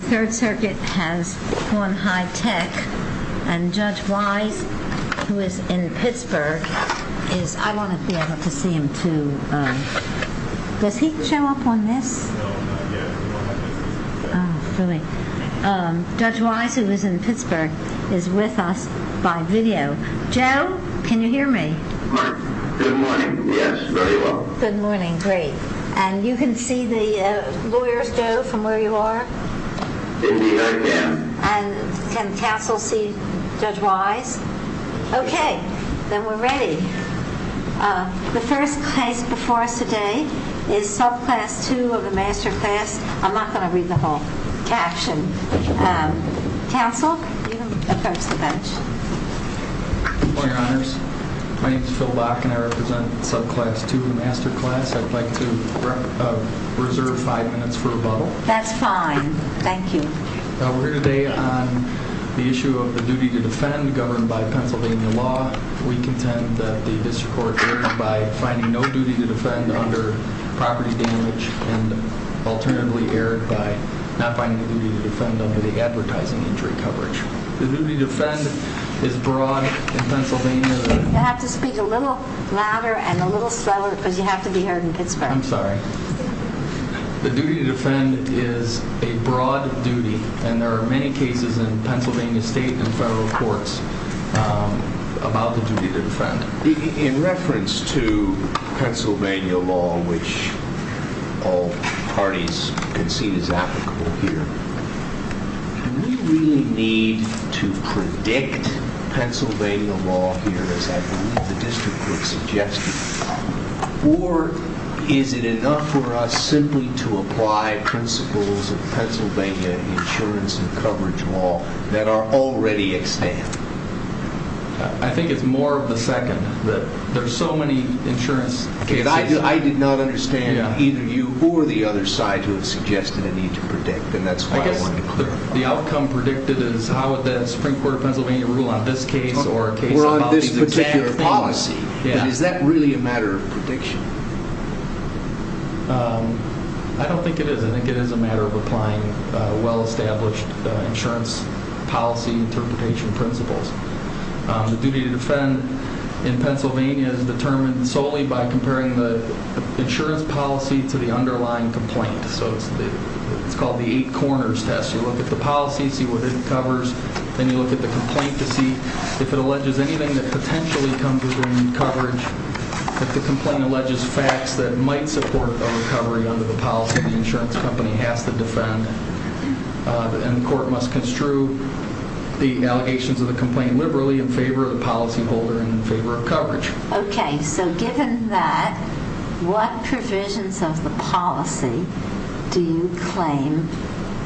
The Third Circuit has sworn high-tech and Judge Wise, who is in Pittsburgh, is with us by video. Joe, can you hear me? Good morning, yes, very well. Good morning, great. And you can see the lawyers, Joe, from where you are? Indeed I can. And can counsel see Judge Wise? Okay, then we're ready. The first case before us today is Subclass 2 of the Master Class. I'm not going to read the whole caption. Counsel, you can approach the bench. Good morning, Your Honors. My name is Phil Bach, and I represent Subclass 2 of the Master Class. I'd like to reserve five minutes for rebuttal. That's fine. Thank you. We're here today on the issue of the duty to defend governed by Pennsylvania law. We contend that the District Court erred by finding no duty to defend under property damage and alternatively erred by not finding a duty to defend under the advertising injury coverage. The duty to defend is broad in Pennsylvania. You have to speak a little louder and a little subtler because you have to be heard in Pittsburgh. I'm sorry. The duty to defend is a broad duty, and there are many cases in Pennsylvania state and federal courts about the duty to defend. In reference to Pennsylvania law, which all parties concede is applicable here, do we really need to predict Pennsylvania law here, as I believe the District Court suggested, or is it enough for us simply to apply principles of Pennsylvania insurance and coverage law that are already at stand? I think it's more of the second. There are so many insurance cases. I did not understand either you or the other side who have suggested a need to predict, and that's why I wanted to clarify. I guess the outcome predicted is how would the Supreme Court of Pennsylvania rule on this case or a case about this particular policy. Is that really a matter of prediction? I don't think it is. I think it is a matter of applying well-established insurance policy interpretation principles. The duty to defend in Pennsylvania is determined solely by comparing the insurance policy to the underlying complaint. It's called the eight corners test. You look at the policy and see what it covers. Then you look at the complaint to see if it alleges anything that potentially comes within coverage. If the complaint alleges facts that might support a recovery under the policy, the insurance company has to defend. The court must construe the allegations of the complaint liberally in favor of the policyholder and in favor of coverage. Given that, what provisions of the policy do you claim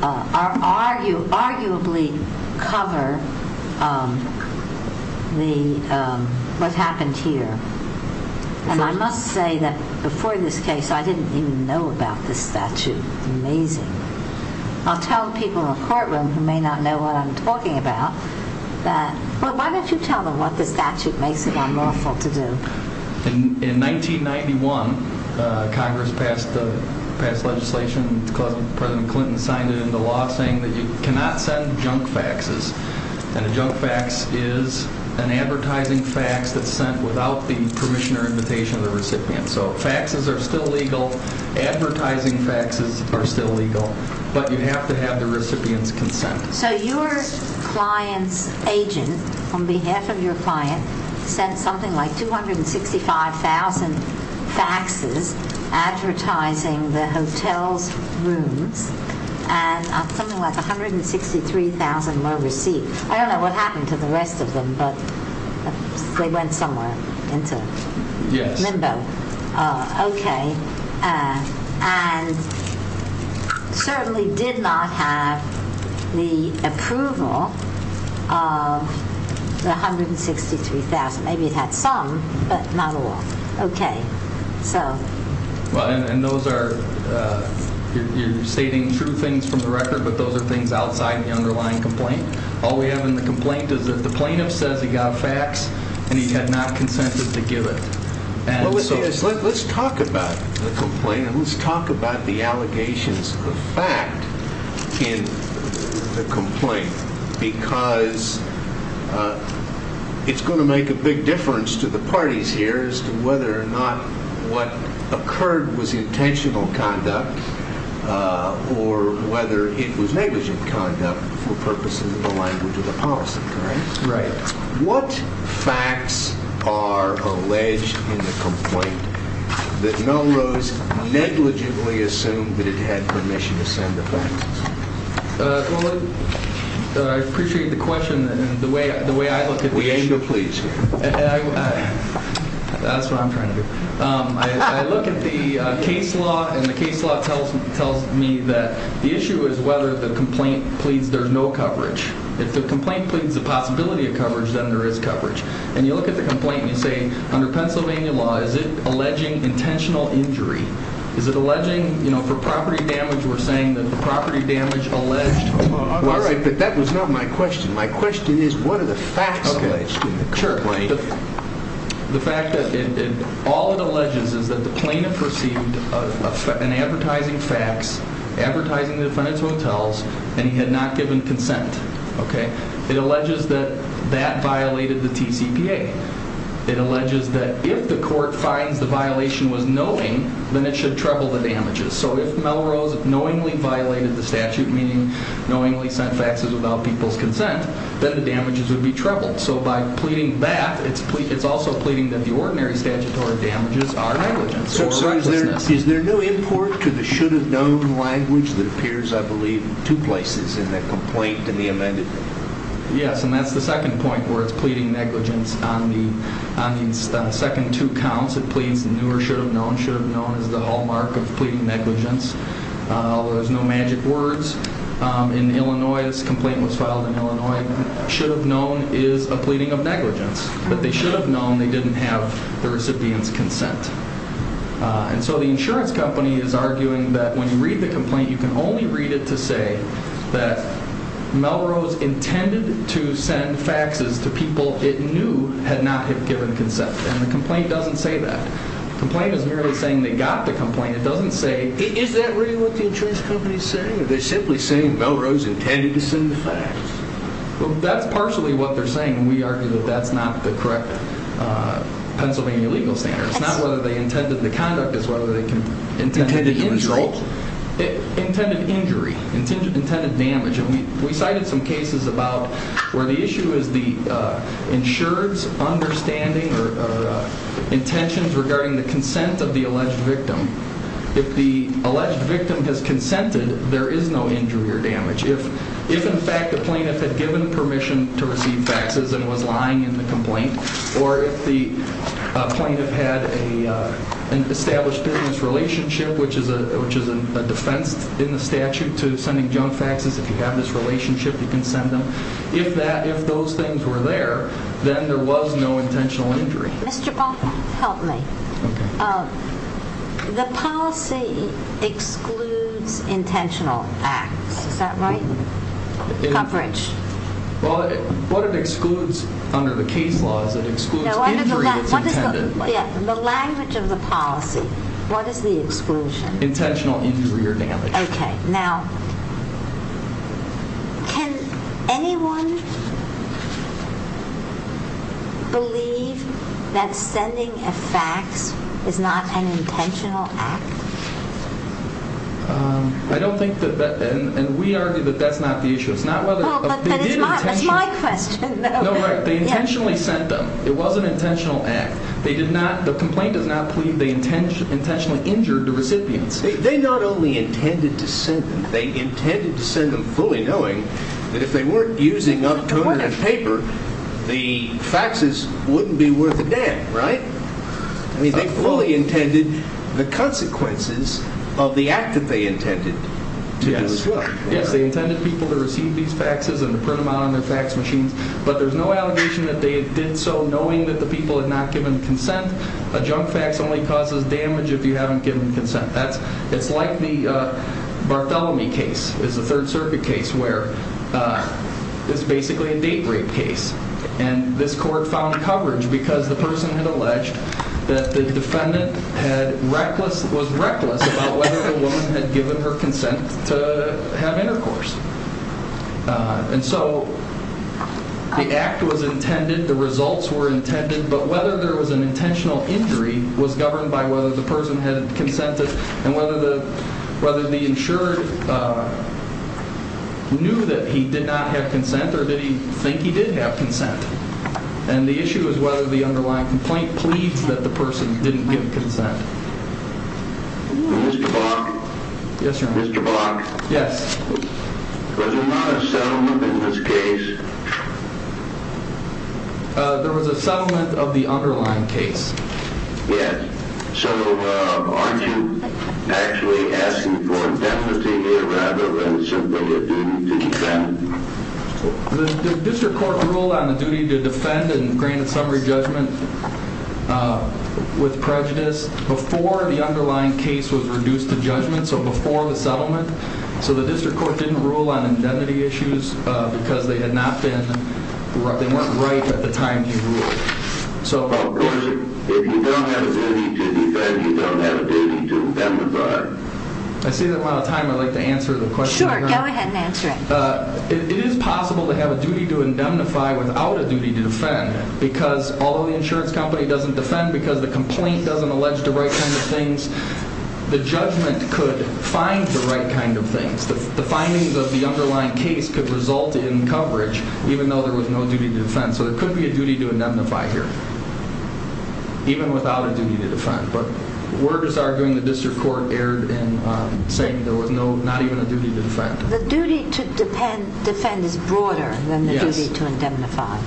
arguably cover what happened here? I must say that before this case, I didn't even know about this statute. Amazing. I'll tell people in the courtroom who may not know what I'm talking about, but why don't you tell them what the statute makes it unlawful to do? In 1991, Congress passed legislation, President Clinton signed it into law, saying that you cannot send junk faxes. A junk fax is an advertising fax that's sent without the permission or invitation of the recipient. Faxes are still legal. Advertising faxes are still legal. But you have to have the recipient's consent. So your client's agent, on behalf of your client, sent something like 265,000 faxes advertising the hotel's rooms and something like 163,000 were received. I don't know what happened to the rest of them, but they went somewhere, into limbo. Yes. The approval of the 163,000. Maybe it had some, but not all. Okay, so. And those are, you're stating true things from the record, but those are things outside the underlying complaint. All we have in the complaint is that the plaintiff says he got fax and he had not consented to give it. Let's talk about the complaint. What is the fact in the complaint? Because it's going to make a big difference to the parties here as to whether or not what occurred was intentional conduct or whether it was negligent conduct for purposes of the language of the policy, correct? Right. What facts are alleged in the complaint that Melrose negligibly assumed that it had permission to send the faxes? Well, I appreciate the question and the way I look at the issue. We aim to please you. That's what I'm trying to do. I look at the case law, and the case law tells me that the issue is whether the complaint pleads there's no coverage. If the complaint pleads the possibility of coverage, then there is coverage. And you look at the complaint and you say, under Pennsylvania law, is it alleging intentional injury? Is it alleging, you know, for property damage, we're saying that the property damage alleged? Well, all right, but that was not my question. My question is what are the facts alleged in the complaint? Sure. The fact that all it alleges is that the plaintiff received an advertising fax advertising the defendant's hotels, and he had not given consent, okay? It alleges that that violated the TCPA. It alleges that if the court finds the violation was knowing, then it should treble the damages. So if Melrose knowingly violated the statute, meaning knowingly sent faxes without people's consent, then the damages would be trebled. So by pleading that, it's also pleading that the ordinary statutory damages are negligence or recklessness. Is there no import to the should-have-known language that appears, I believe, in two places in the complaint and the amended? Yes, and that's the second point where it's pleading negligence. On the second two counts, it pleads the new or should-have-known. Should-have-known is the hallmark of pleading negligence, although there's no magic words. In Illinois, this complaint was filed in Illinois. Should-have-known is a pleading of negligence. But they should-have-known they didn't have the recipient's consent. And so the insurance company is arguing that when you read the complaint, you can only read it to say that Melrose intended to send faxes to people it knew had not given consent, and the complaint doesn't say that. The complaint is merely saying they got the complaint. It doesn't say— Is that really what the insurance company is saying? Are they simply saying Melrose intended to send the fax? Well, that's partially what they're saying, and we argue that that's not the correct Pennsylvania legal standard. It's not whether they intended the conduct, it's whether they intended the insult. Intended injury, intended damage. And we cited some cases about where the issue is the insurer's understanding or intentions regarding the consent of the alleged victim. If the alleged victim has consented, there is no injury or damage. If, in fact, the plaintiff had given permission to receive faxes and was lying in the complaint, or if the plaintiff had an established business relationship, which is a defense in the statute to sending junk faxes, if you have this relationship, you can send them. If those things were there, then there was no intentional injury. Mr. Baumgartner, help me. Okay. The policy excludes intentional acts. Is that right? Coverage. Well, what it excludes under the case law is it excludes injury that's intended. The language of the policy. What is the exclusion? Intentional injury or damage. Okay. Now, can anyone believe that sending a fax is not an intentional act? I don't think that that, and we argue that that's not the issue. That's my question. No, they intentionally sent them. It was an intentional act. They did not, the complaint does not plead they intentionally injured the recipients. They not only intended to send them. They intended to send them fully knowing that if they weren't using up paper, the faxes wouldn't be worth a damn, right? I mean, they fully intended the consequences of the act that they intended to do as well. Yes, they intended people to receive these faxes and to print them out on their fax machines, but there's no allegation that they did so knowing that the people had not given consent. A junk fax only causes damage if you haven't given consent. It's like the Bartholomew case. It's a Third Circuit case where it's basically a date rape case, and this court found coverage because the person had alleged that the defendant was reckless about whether the woman had given her consent to have intercourse. And so the act was intended, the results were intended, but whether there was an intentional injury was governed by whether the person had consented and whether the insured knew that he did not have consent or did he think he did have consent. And the issue is whether the underlying complaint pleads that the person didn't give consent. Mr. Bach? Yes, Your Honor. Mr. Bach? Yes. Was there not a settlement in this case? There was a settlement of the underlying case. Yes. So aren't you actually asking for indemnity here rather than simply a duty to defend? The district court ruled on the duty to defend and granted summary judgment with prejudice before the underlying case was reduced to judgment, so before the settlement. So the district court didn't rule on indemnity issues because they had not been, they weren't right at the time he ruled. If you don't have a duty to defend, you don't have a duty to defend the product? I see the amount of time I'd like to answer the question. Sure, go ahead and answer it. It is possible to have a duty to indemnify without a duty to defend because although the insurance company doesn't defend because the complaint doesn't allege the right kind of things, the judgment could find the right kind of things. The findings of the underlying case could result in coverage even though there was no duty to defend. So there could be a duty to indemnify here even without a duty to defend. Word is arguing the district court erred in saying there was not even a duty to defend. The duty to defend is broader than the duty to indemnify.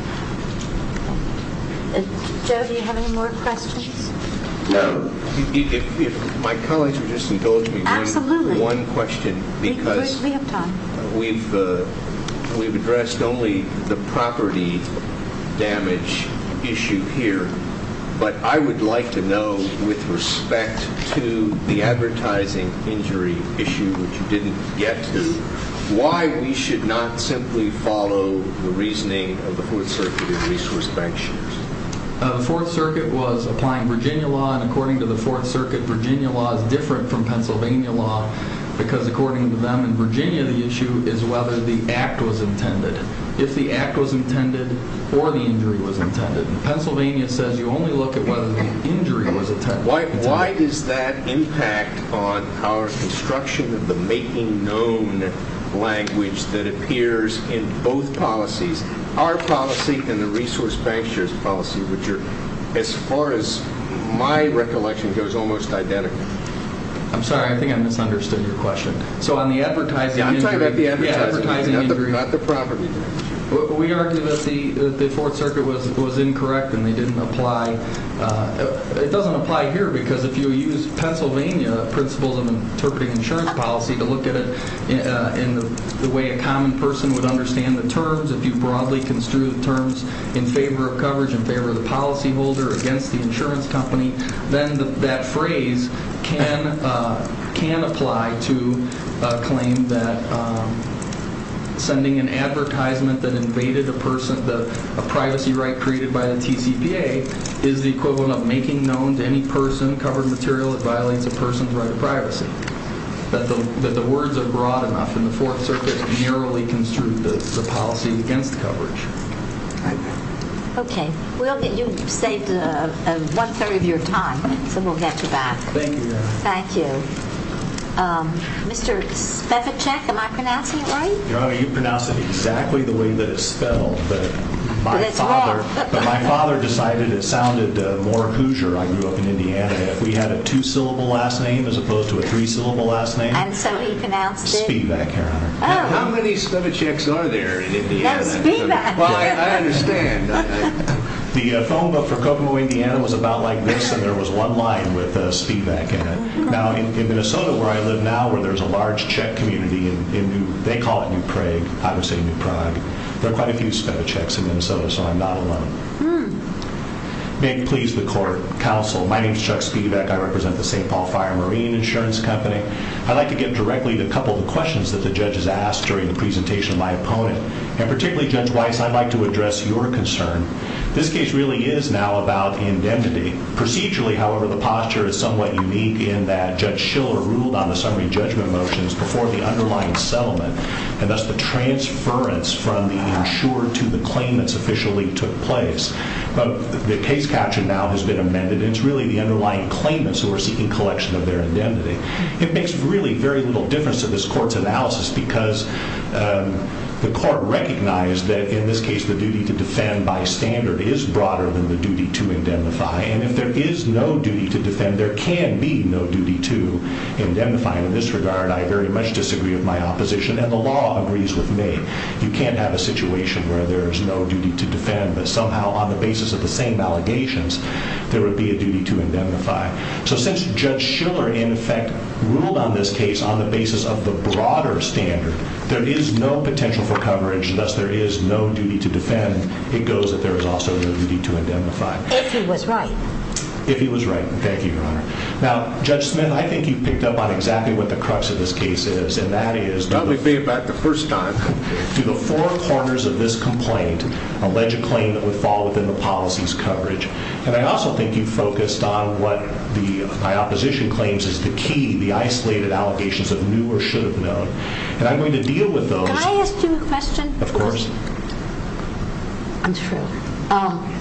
Joe, do you have any more questions? No, if my colleagues would just indulge me. Absolutely. One question. We have time. We've addressed only the property damage issue here, but I would like to know with respect to the advertising injury issue, which you didn't get to, why we should not simply follow the reasoning of the Fourth Circuit and resource bank shares. The Fourth Circuit was applying Virginia law, and according to the Fourth Circuit, Virginia law is different from Pennsylvania law because according to them in Virginia, the issue is whether the act was intended. If the act was intended or the injury was intended. Pennsylvania says you only look at whether the injury was intended. Why does that impact on our construction of the making known language that appears in both policies, our policy and the resource bank shares policy, which are, as far as my recollection goes, almost identical? I'm sorry. I think I misunderstood your question. So on the advertising injury. I'm talking about the advertising injury, not the property damage. We argue that the Fourth Circuit was incorrect and they didn't apply. It doesn't apply here because if you use Pennsylvania principles of interpreting insurance policy to look at it in the way a common person would understand the terms, if you broadly construe the terms in favor of coverage, in favor of the policyholder, against the insurance company, then that phrase can apply to a claim that sending an advertisement that invaded a privacy right created by the TCPA is the equivalent of making known to any person covered material that violates a person's right to privacy. But the words are broad enough, and the Fourth Circuit narrowly construed the policy against coverage. Okay. You've saved one third of your time, so we'll get you back. Thank you, Your Honor. Thank you. Mr. Spivacek, am I pronouncing it right? Your Honor, you pronounced it exactly the way that it's spelled. But my father decided it sounded more Hoosier. I grew up in Indiana. If we had a two-syllable last name as opposed to a three-syllable last name. And so he pronounced it? Spivak, Your Honor. How many Spivaceks are there in Indiana? Spivak. Well, I understand. The phone book for Copenhagen, Indiana, was about like this, and there was one line with Spivak in it. Now, in Minnesota, where I live now, where there's a large check community, they call it New Prague. I would say New Prague. There are quite a few spent checks in Minnesota, so I'm not alone. May it please the court. Counsel, my name is Chuck Spivak. I represent the St. Paul Fire and Marine Insurance Company. I'd like to get directly to a couple of the questions that the judges asked during the presentation of my opponent. And particularly, Judge Weiss, I'd like to address your concern. This case really is now about indemnity. Procedurally, however, the posture is somewhat unique in that Judge Schiller ruled on the summary judgment motions before the underlying settlement, and thus the transference from the insured to the claimants officially took place. But the case caption now has been amended, and it's really the underlying claimants who are seeking collection of their indemnity. It makes really very little difference to this court's analysis because the court recognized that, in this case, the duty to defend by standard is broader than the duty to indemnify. And if there is no duty to defend, there can be no duty to indemnify. In this regard, I very much disagree with my opposition, and the law agrees with me. You can't have a situation where there's no duty to defend, but somehow on the basis of the same allegations, there would be a duty to indemnify. So since Judge Schiller, in effect, ruled on this case on the basis of the broader standard, there is no potential for coverage, thus there is no duty to defend. It goes that there is also no duty to indemnify. If he was right. If he was right. Thank you, Your Honor. Now, Judge Smith, I think you've picked up on exactly what the crux of this case is, and that is That would be about the first time. through the four corners of this complaint, allege a claim that would fall within the policy's coverage. And I also think you've focused on what my opposition claims is the key, the isolated allegations of knew or should have known. And I'm going to deal with those. Can I ask you a question? Of course.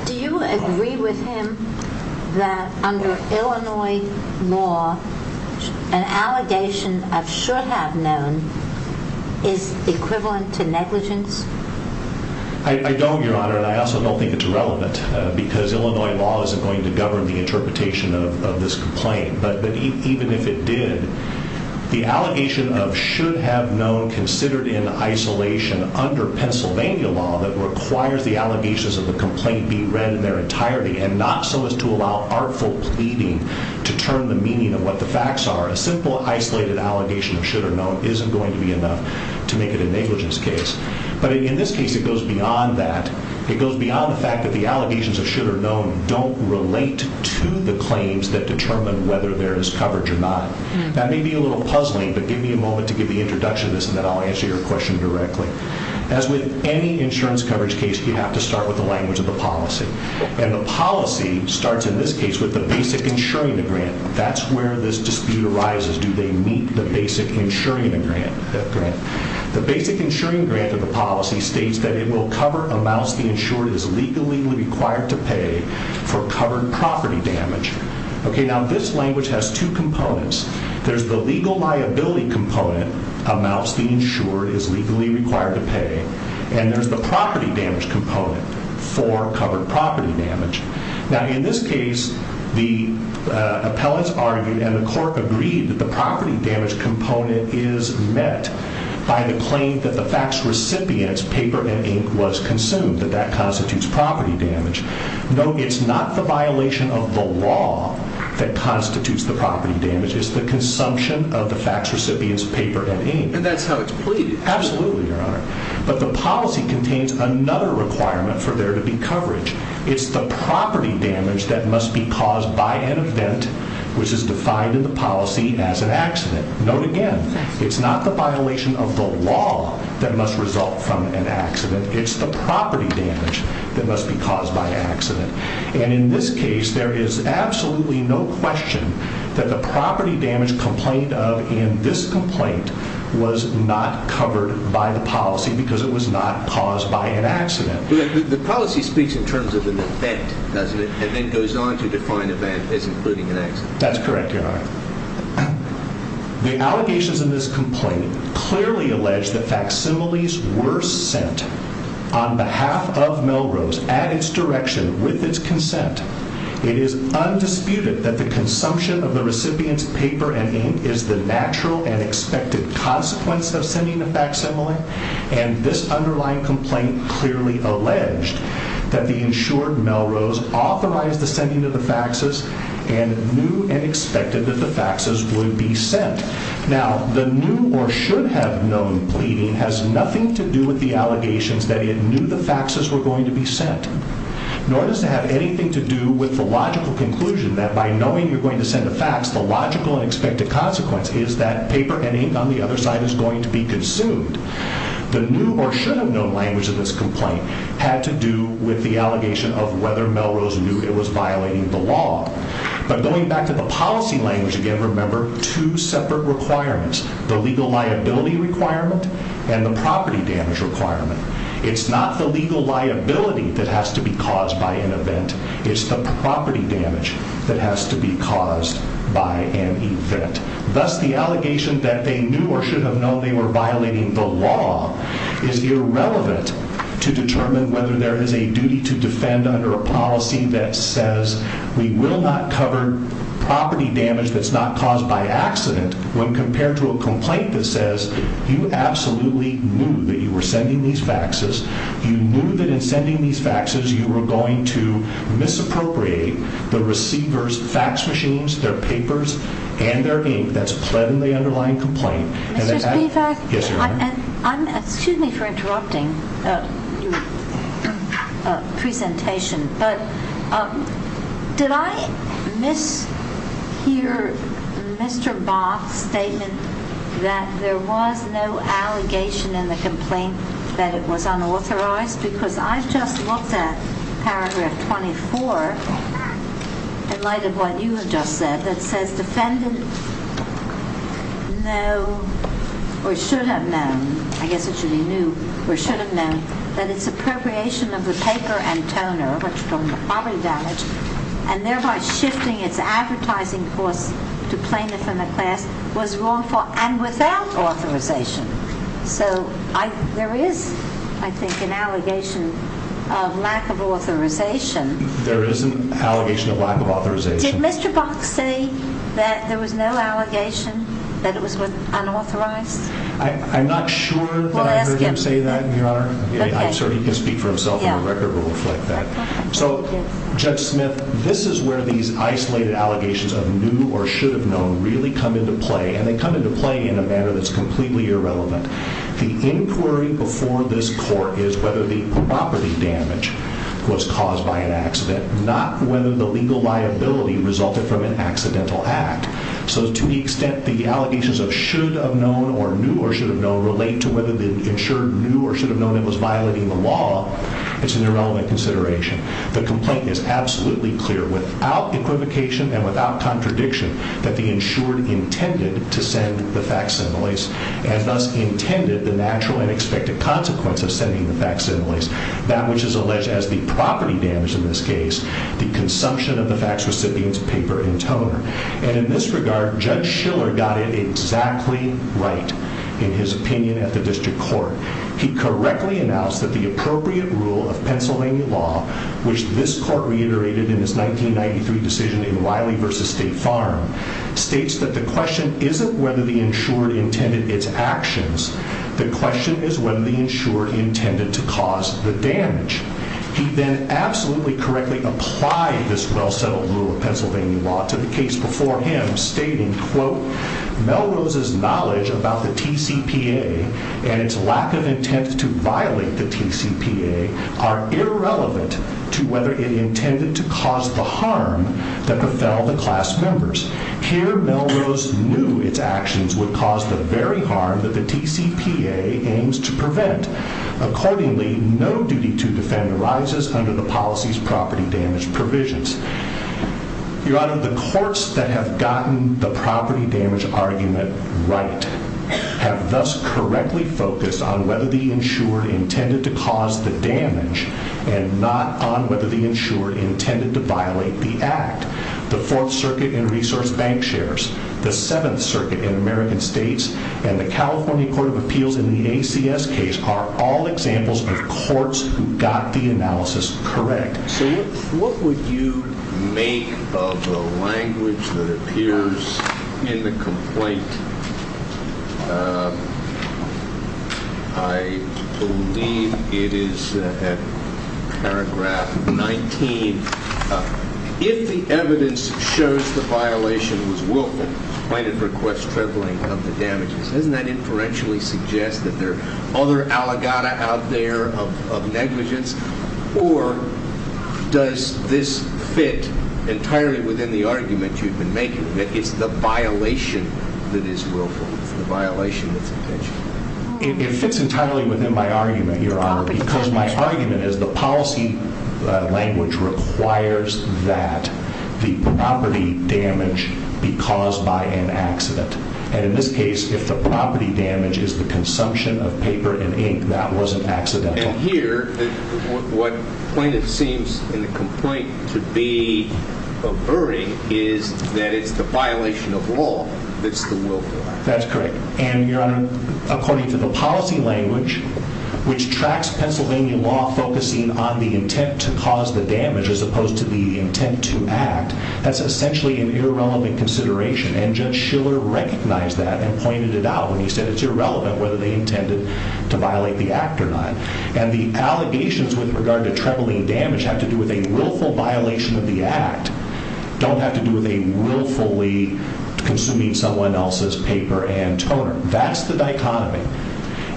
Do you agree with him that under Illinois law, an allegation of should have known is equivalent to negligence? I don't, Your Honor, and I also don't think it's relevant. Because Illinois law isn't going to govern the interpretation of this complaint. But even if it did, the allegation of should have known considered in isolation under Pennsylvania law that requires the allegations of the complaint be read in their entirety, and not so as to allow artful pleading to turn the meaning of what the facts are. A simple isolated allegation of should have known isn't going to be enough to make it a negligence case. But in this case, it goes beyond that. It goes beyond the fact that the allegations of should have known don't relate to the claims that determine whether there is coverage or not. That may be a little puzzling, but give me a moment to give the introduction to this, and then I'll answer your question directly. As with any insurance coverage case, you have to start with the language of the policy. And the policy starts, in this case, with the basic insuring the grant. That's where this dispute arises. Do they meet the basic insuring the grant? The basic insuring grant of the policy states that it will cover amounts the insured is legally required to pay for covered property damage. Okay, now this language has two components. There's the legal liability component, amounts the insured is legally required to pay, and there's the property damage component for covered property damage. Now, in this case, the appellants argued and the court agreed that the property damage component is met by the claim that the fax recipient's paper and ink was consumed, that that constitutes property damage. No, it's not the violation of the law that constitutes the property damage. It's the consumption of the fax recipient's paper and ink. And that's how it's pleaded. Absolutely, Your Honor. But the policy contains another requirement for there to be coverage. It's the property damage that must be caused by an event, which is defined in the policy as an accident. Note again, it's not the violation of the law that must result from an accident. It's the property damage that must be caused by an accident. And in this case, there is absolutely no question that the property damage complained of in this complaint was not covered by the policy because it was not caused by an accident. The policy speaks in terms of an event, doesn't it? And then goes on to define event as including an accident. That's correct, Your Honor. The allegations in this complaint clearly allege that facsimiles were sent on behalf of Melrose at its direction with its consent. It is undisputed that the consumption of the recipient's paper and ink is the natural and expected consequence of sending a facsimile. And this underlying complaint clearly alleged that the insured Melrose authorized the sending of the faxes and knew and expected that the faxes would be sent. Now, the new or should have known pleading has nothing to do with the allegations that it knew the faxes were going to be sent. Nor does it have anything to do with the logical conclusion that by knowing you're going to send a fax, the logical and expected consequence is that paper and ink on the other side is going to be consumed. The new or should have known language of this complaint had to do with the allegation of whether Melrose knew it was violating the law. But going back to the policy language again, remember two separate requirements. The legal liability requirement and the property damage requirement. It's not the legal liability that has to be caused by an event. It's the property damage that has to be caused by an event. Thus, the allegation that they knew or should have known they were violating the law is irrelevant to determine whether there is a duty to defend under a policy that says we will not cover property damage that's not caused by accident when compared to a complaint that says you absolutely knew that you were sending these faxes. You knew that in sending these faxes, you were going to misappropriate the receiver's fax machines, their papers, and their ink that's pledged in the underlying complaint. Mr. Spivak, excuse me for interrupting your presentation, but did I mishear Mr. Bach's statement that there was no allegation in the complaint that it was unauthorized? Because I've just looked at paragraph 24 in light of what you have just said that says defendant know or should have known, I guess it should be knew or should have known, that its appropriation of the paper and toner, what you call the property damage, and thereby shifting its advertising course to plaintiff and the class was wrongful and without authorization. So there is, I think, an allegation of lack of authorization. There is an allegation of lack of authorization. Did Mr. Bach say that there was no allegation that it was unauthorized? I'm not sure that I heard him say that, Your Honor. I'm sure he can speak for himself on the record and reflect that. So, Judge Smith, this is where these isolated allegations of knew or should have known really come into play, and they come into play in a manner that's completely irrelevant. The inquiry before this court is whether the property damage was caused by an accident, not whether the legal liability resulted from an accidental act. So to the extent the allegations of should have known or knew or should have known relate to whether the insured knew or should have known it was violating the law, it's an irrelevant consideration. The complaint is absolutely clear without equivocation and without contradiction that the insured intended to send the facsimiles and thus intended the natural and expected consequence of sending the facsimiles, that which is alleged as the property damage in this case, the consumption of the fax recipient's paper and toner. And in this regard, Judge Schiller got it exactly right in his opinion at the district court. He correctly announced that the appropriate rule of Pennsylvania law, which this court reiterated in its 1993 decision in Wiley v. State Farm, states that the question isn't whether the insured intended its actions. The question is whether the insured intended to cause the damage. He then absolutely correctly applied this well-settled rule of Pennsylvania law to the case before him, stating, quote, Melrose's knowledge about the TCPA and its lack of intent to violate the TCPA are irrelevant to whether it intended to cause the harm that befell the class members. Here, Melrose knew its actions would cause the very harm that the TCPA aims to prevent. Accordingly, no duty to defend arises under the policy's property damage provisions. Your Honor, the courts that have gotten the property damage argument right have thus correctly focused on whether the insured intended to cause the damage and not on whether the insured intended to violate the act. The Fourth Circuit in resource bank shares, the Seventh Circuit in American states, and the California Court of Appeals in the ACS case are all examples of courts who got the analysis correct. So what would you make of the language that appears in the complaint? I believe it is paragraph 19. If the evidence shows the violation was willful, plaintiff requests tripling of the damages. Doesn't that inferentially suggest that there are other allegata out there of negligence? Or does this fit entirely within the argument you've been making, that it's the violation that is willful, it's the violation that's intentional? It fits entirely within my argument, Your Honor, because my argument is the policy language requires that the property damage be caused by an accident. And in this case, if the property damage is the consumption of paper and ink, that wasn't accidental. And here, what plaintiff seems in the complaint to be averting is that it's the violation of law that's the willful act. That's correct. And, Your Honor, according to the policy language, which tracks Pennsylvania law focusing on the intent to cause the damage as opposed to the intent to act, that's essentially an irrelevant consideration, and Judge Schiller recognized that and pointed it out when he said it's irrelevant whether they intended to violate the act or not. And the allegations with regard to tripling damage have to do with a willful violation of the act, don't have to do with a willfully consuming someone else's paper and toner. That's the dichotomy.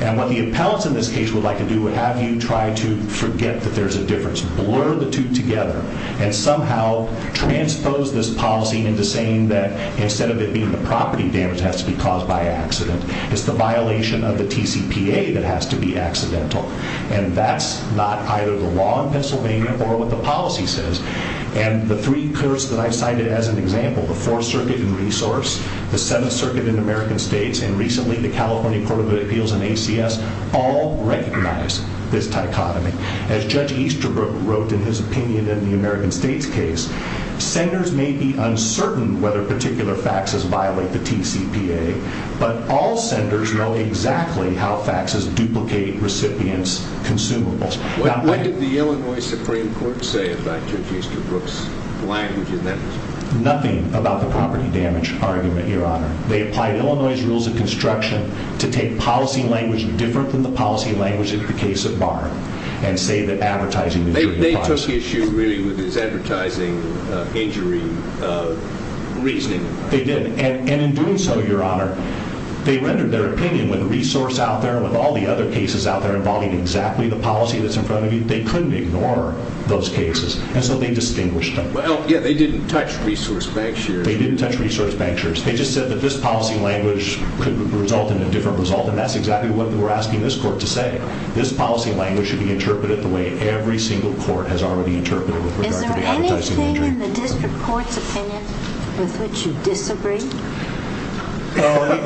And what the appellants in this case would like to do would have you try to forget that there's a difference, blur the two together, and somehow transpose this policy into saying that instead of it being the property damage that has to be caused by accident, it's the violation of the TCPA that has to be accidental. And that's not either the law in Pennsylvania or what the policy says. And the three curves that I've cited as an example, the Fourth Circuit in Resource, the Seventh Circuit in American States, and recently the California Court of Appeals and ACS, all recognize this dichotomy. As Judge Easterbrook wrote in his opinion in the American States case, senders may be uncertain whether particular faxes violate the TCPA, but all senders know exactly how faxes duplicate recipients' consumables. What did the Illinois Supreme Court say about Judge Easterbrook's language in that? Nothing about the property damage argument, Your Honor. They applied Illinois' rules of construction to take policy language different than the policy language in the case of Barr and say that advertising injury applies. They took issue, really, with his advertising injury reasoning. They did, and in doing so, Your Honor, they rendered their opinion with Resource out there and with all the other cases out there involving exactly the policy that's in front of you. They couldn't ignore those cases, and so they distinguished them. Well, yeah, they didn't touch Resource Bank shares. They just said that this policy language could result in a different result, and that's exactly what we're asking this court to say. This policy language should be interpreted the way every single court has already interpreted it with regard to the advertising injury. Is there anything in the district court's opinion with which you disagree? Well,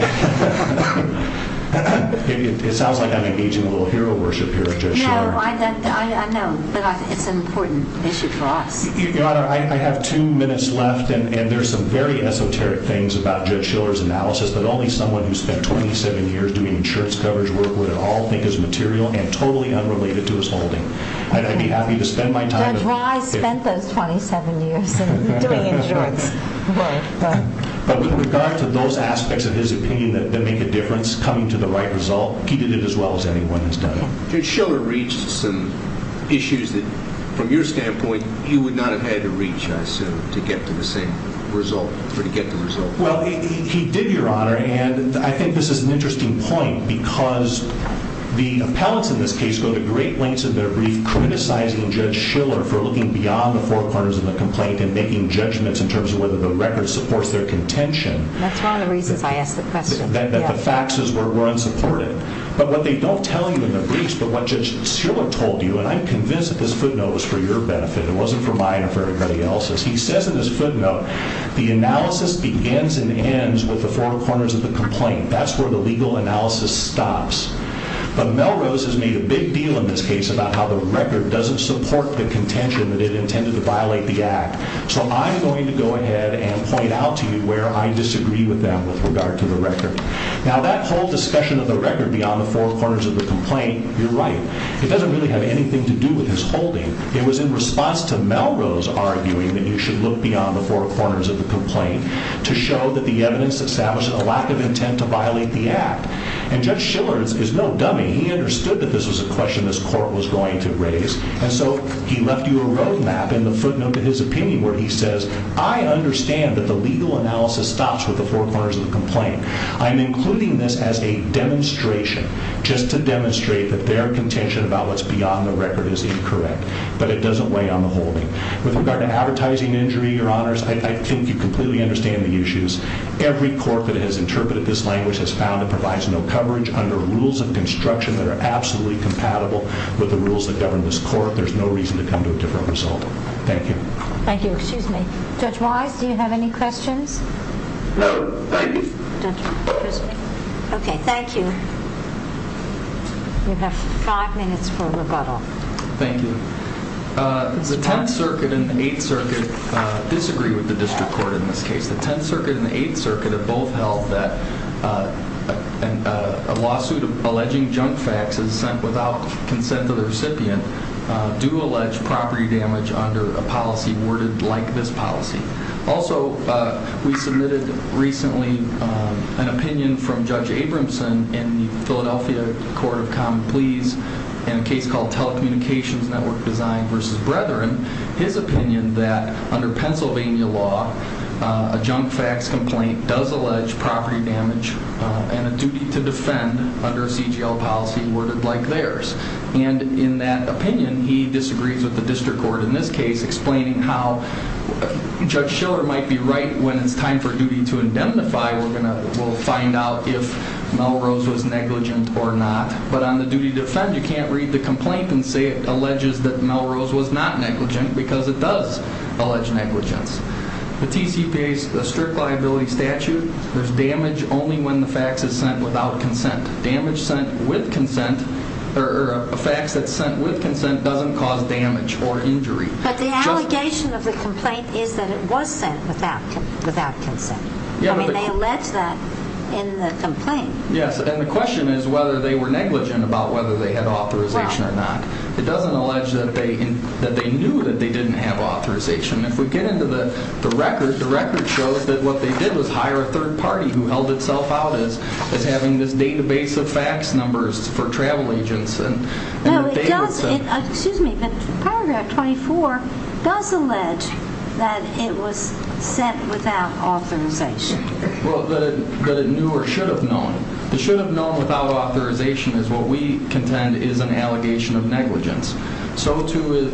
it sounds like I'm engaging a little hero worship here, Judge Shearer. No, I know, but it's an important issue for us. Your Honor, I have two minutes left, and there are some very esoteric things about Judge Shiller's analysis that only someone who spent 27 years doing insurance coverage work would at all think is material and totally unrelated to his holding. I'd be happy to spend my time. Judge Wise spent those 27 years doing insurance work. But with regard to those aspects of his opinion that make a difference coming to the right result, he did it as well as anyone has done it. Judge Shiller reached some issues that, from your standpoint, you would not have had to reach, I assume, to get to the same result, or to get the result. Well, he did, Your Honor, and I think this is an interesting point because the appellants in this case go to great lengths in their brief criticizing Judge Shiller for looking beyond the four corners of the complaint and making judgments in terms of whether the record supports their contention. That's one of the reasons I asked the question. That the facts were unsupported. But what they don't tell you in the briefs, but what Judge Shiller told you, and I'm convinced that this footnote was for your benefit. It wasn't for mine or for anybody else's. He says in his footnote, the analysis begins and ends with the four corners of the complaint. That's where the legal analysis stops. But Melrose has made a big deal in this case about how the record doesn't support the contention that it intended to violate the act. So I'm going to go ahead and point out to you where I disagree with them with regard to the record. Now that whole discussion of the record beyond the four corners of the complaint, you're right. It doesn't really have anything to do with his holding. It was in response to Melrose arguing that you should look beyond the four corners of the complaint to show that the evidence established a lack of intent to violate the act. And Judge Shiller is no dummy. He understood that this was a question this court was going to raise. And so he left you a road map in the footnote to his opinion where he says, I understand that the legal analysis stops with the four corners of the complaint. I'm including this as a demonstration, just to demonstrate that their contention about what's beyond the record is incorrect. But it doesn't weigh on the holding. With regard to advertising injury, Your Honors, I think you completely understand the issues. Every court that has interpreted this language has found it provides no coverage under rules of construction that are absolutely compatible with the rules that govern this court. There's no reason to come to a different result. Thank you. Thank you. Excuse me. Judge Wise, do you have any questions? No, thank you. Okay, thank you. You have five minutes for rebuttal. Thank you. The Tenth Circuit and the Eighth Circuit disagree with the district court in this case. The Tenth Circuit and the Eighth Circuit have both held that a lawsuit alleging junk faxes sent without consent of the recipient do allege property damage under a policy worded like this policy. Also, we submitted recently an opinion from Judge Abramson in the Philadelphia Court of Common Pleas in a case called Telecommunications Network Design v. Brethren. His opinion that under Pennsylvania law, a junk fax complaint does allege property damage and a duty to defend under a CGL policy worded like theirs. And in that opinion, he disagrees with the district court in this case explaining how Judge Schiller might be right when it's time for duty to indemnify. We'll find out if Melrose was negligent or not. But on the duty to defend, you can't read the complaint and say it alleges that Melrose was not negligent because it does allege negligence. The TCPA's strict liability statute, there's damage only when the fax is sent without consent. Damage sent with consent or a fax that's sent with consent doesn't cause damage or injury. But the allegation of the complaint is that it was sent without consent. I mean, they allege that in the complaint. Yes, and the question is whether they were negligent about whether they had authorization or not. It doesn't allege that they knew that they didn't have authorization. If we get into the record, the record shows that what they did was hire a third party who held itself out as having this database of fax numbers for travel agents. No, it does, excuse me, but paragraph 24 does allege that it was sent without authorization. Well, that it knew or should have known. It should have known without authorization is what we contend is an allegation of negligence. So to,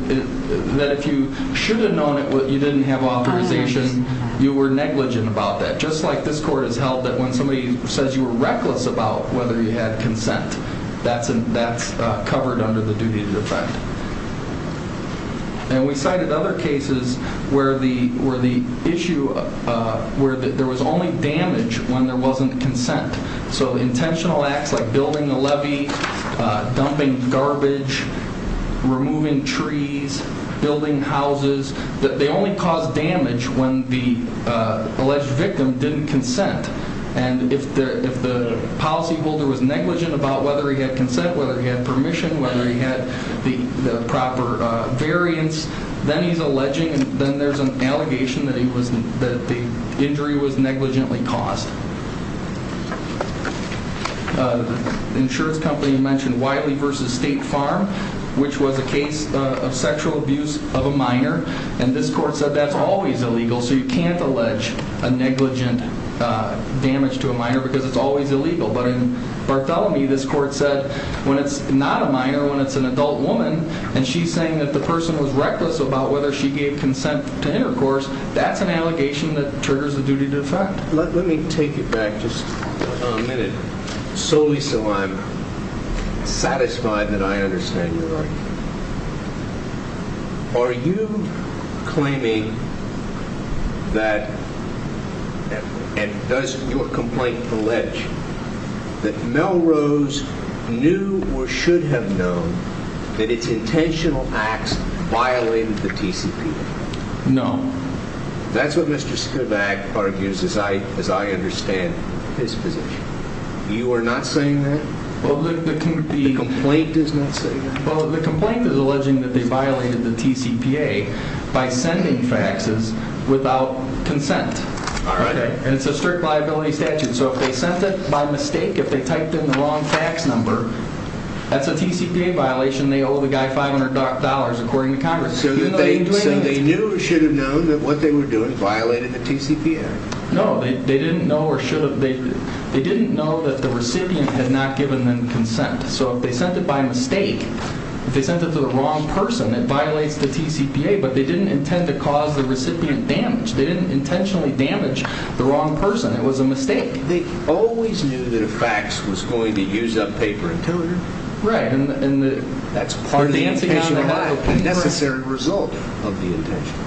that if you should have known you didn't have authorization, you were negligent about that. Just like this court has held that when somebody says you were reckless about whether you had consent, that's covered under the duty to defend. And we cited other cases where the issue, where there was only damage when there wasn't consent. So intentional acts like building a levee, dumping garbage, removing trees, building houses, they only cause damage when the alleged victim didn't consent. And if the policyholder was negligent about whether he had consent, whether he had permission, whether he had the proper variance, then he's alleging, then there's an allegation that the injury was negligently caused. The insurance company mentioned Wiley v. State Farm, which was a case of sexual abuse of a minor. And this court said that's always illegal, so you can't allege a negligent damage to a minor because it's always illegal. But in Bartholomew, this court said when it's not a minor, when it's an adult woman, and she's saying that the person was reckless about whether she gave consent to intercourse, that's an allegation that triggers the duty to defend. Let me take it back just a minute, solely so I'm satisfied that I understand your argument. Are you claiming that, and does your complaint allege, that Melrose knew or should have known that its intentional acts violated the TCP Act? No. That's what Mr. Spivak argues, as I understand his position. You are not saying that? The complaint does not say that. Well, the complaint is alleging that they violated the TCPA by sending faxes without consent. And it's a strict liability statute. So if they sent it by mistake, if they typed in the wrong fax number, that's a TCPA violation. They owe the guy $500, according to Congress. So they knew or should have known that what they were doing violated the TCPA? No, they didn't know or should have. They didn't know that the recipient had not given them consent. So if they sent it by mistake, if they sent it to the wrong person, it violates the TCPA. But they didn't intend to cause the recipient damage. They didn't intentionally damage the wrong person. It was a mistake. They always knew that a fax was going to use up paper and toner. Right. And that's part of the intention of the liability. A necessary result of the intention.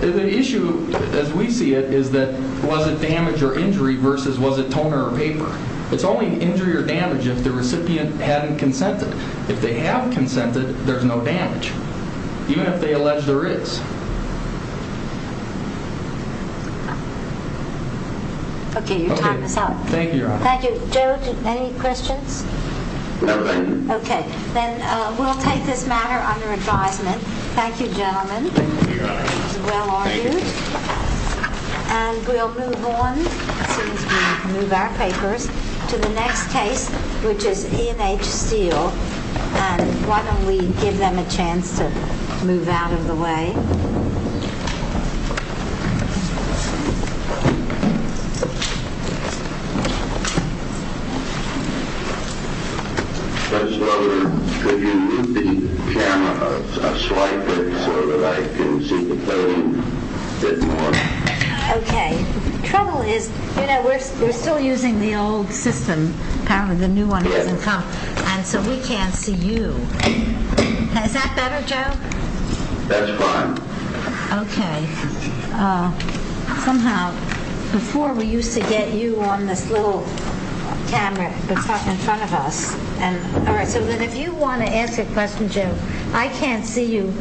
The issue, as we see it, is that was it damage or injury versus was it toner or paper? It's only injury or damage if the recipient hadn't consented. If they have consented, there's no damage, even if they allege there is. Okay, your time is up. Thank you, Your Honor. Thank you. Joe, any questions? No, ma'am. Okay. Then we'll take this matter under advisement. Thank you, gentlemen. Thank you, Your Honor. It was well argued. Thank you. And we'll move on, as soon as we move our papers, to the next case, which is E&H Steel. And why don't we give them a chance to move out of the way. Okay. Trouble is, you know, we're still using the old system. Apparently the new one hasn't come. And so we can't see you. Is that better, Joe? Thank you. Thank you. Thank you. Thank you. Thank you. Thank you. Thank you. Thank you. Okay. Somehow, before we used to get you on this little camera that's up in front of us. All right. So then if you want to ask a question, Joe, I can't see you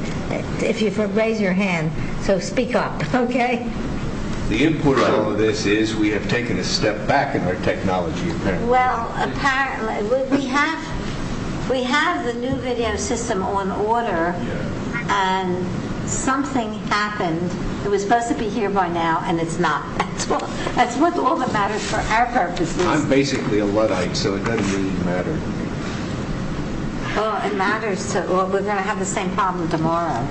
if you raise your hand. So speak up, okay? The import of this is we have taken a step back in our technology, apparently. Well, apparently. We have the new video system on order. And something happened. It was supposed to be here by now, and it's not. That's what all that matters for our purposes. I'm basically a Luddite, so it doesn't really matter. Oh, it matters. Well, we're going to have the same problem tomorrow.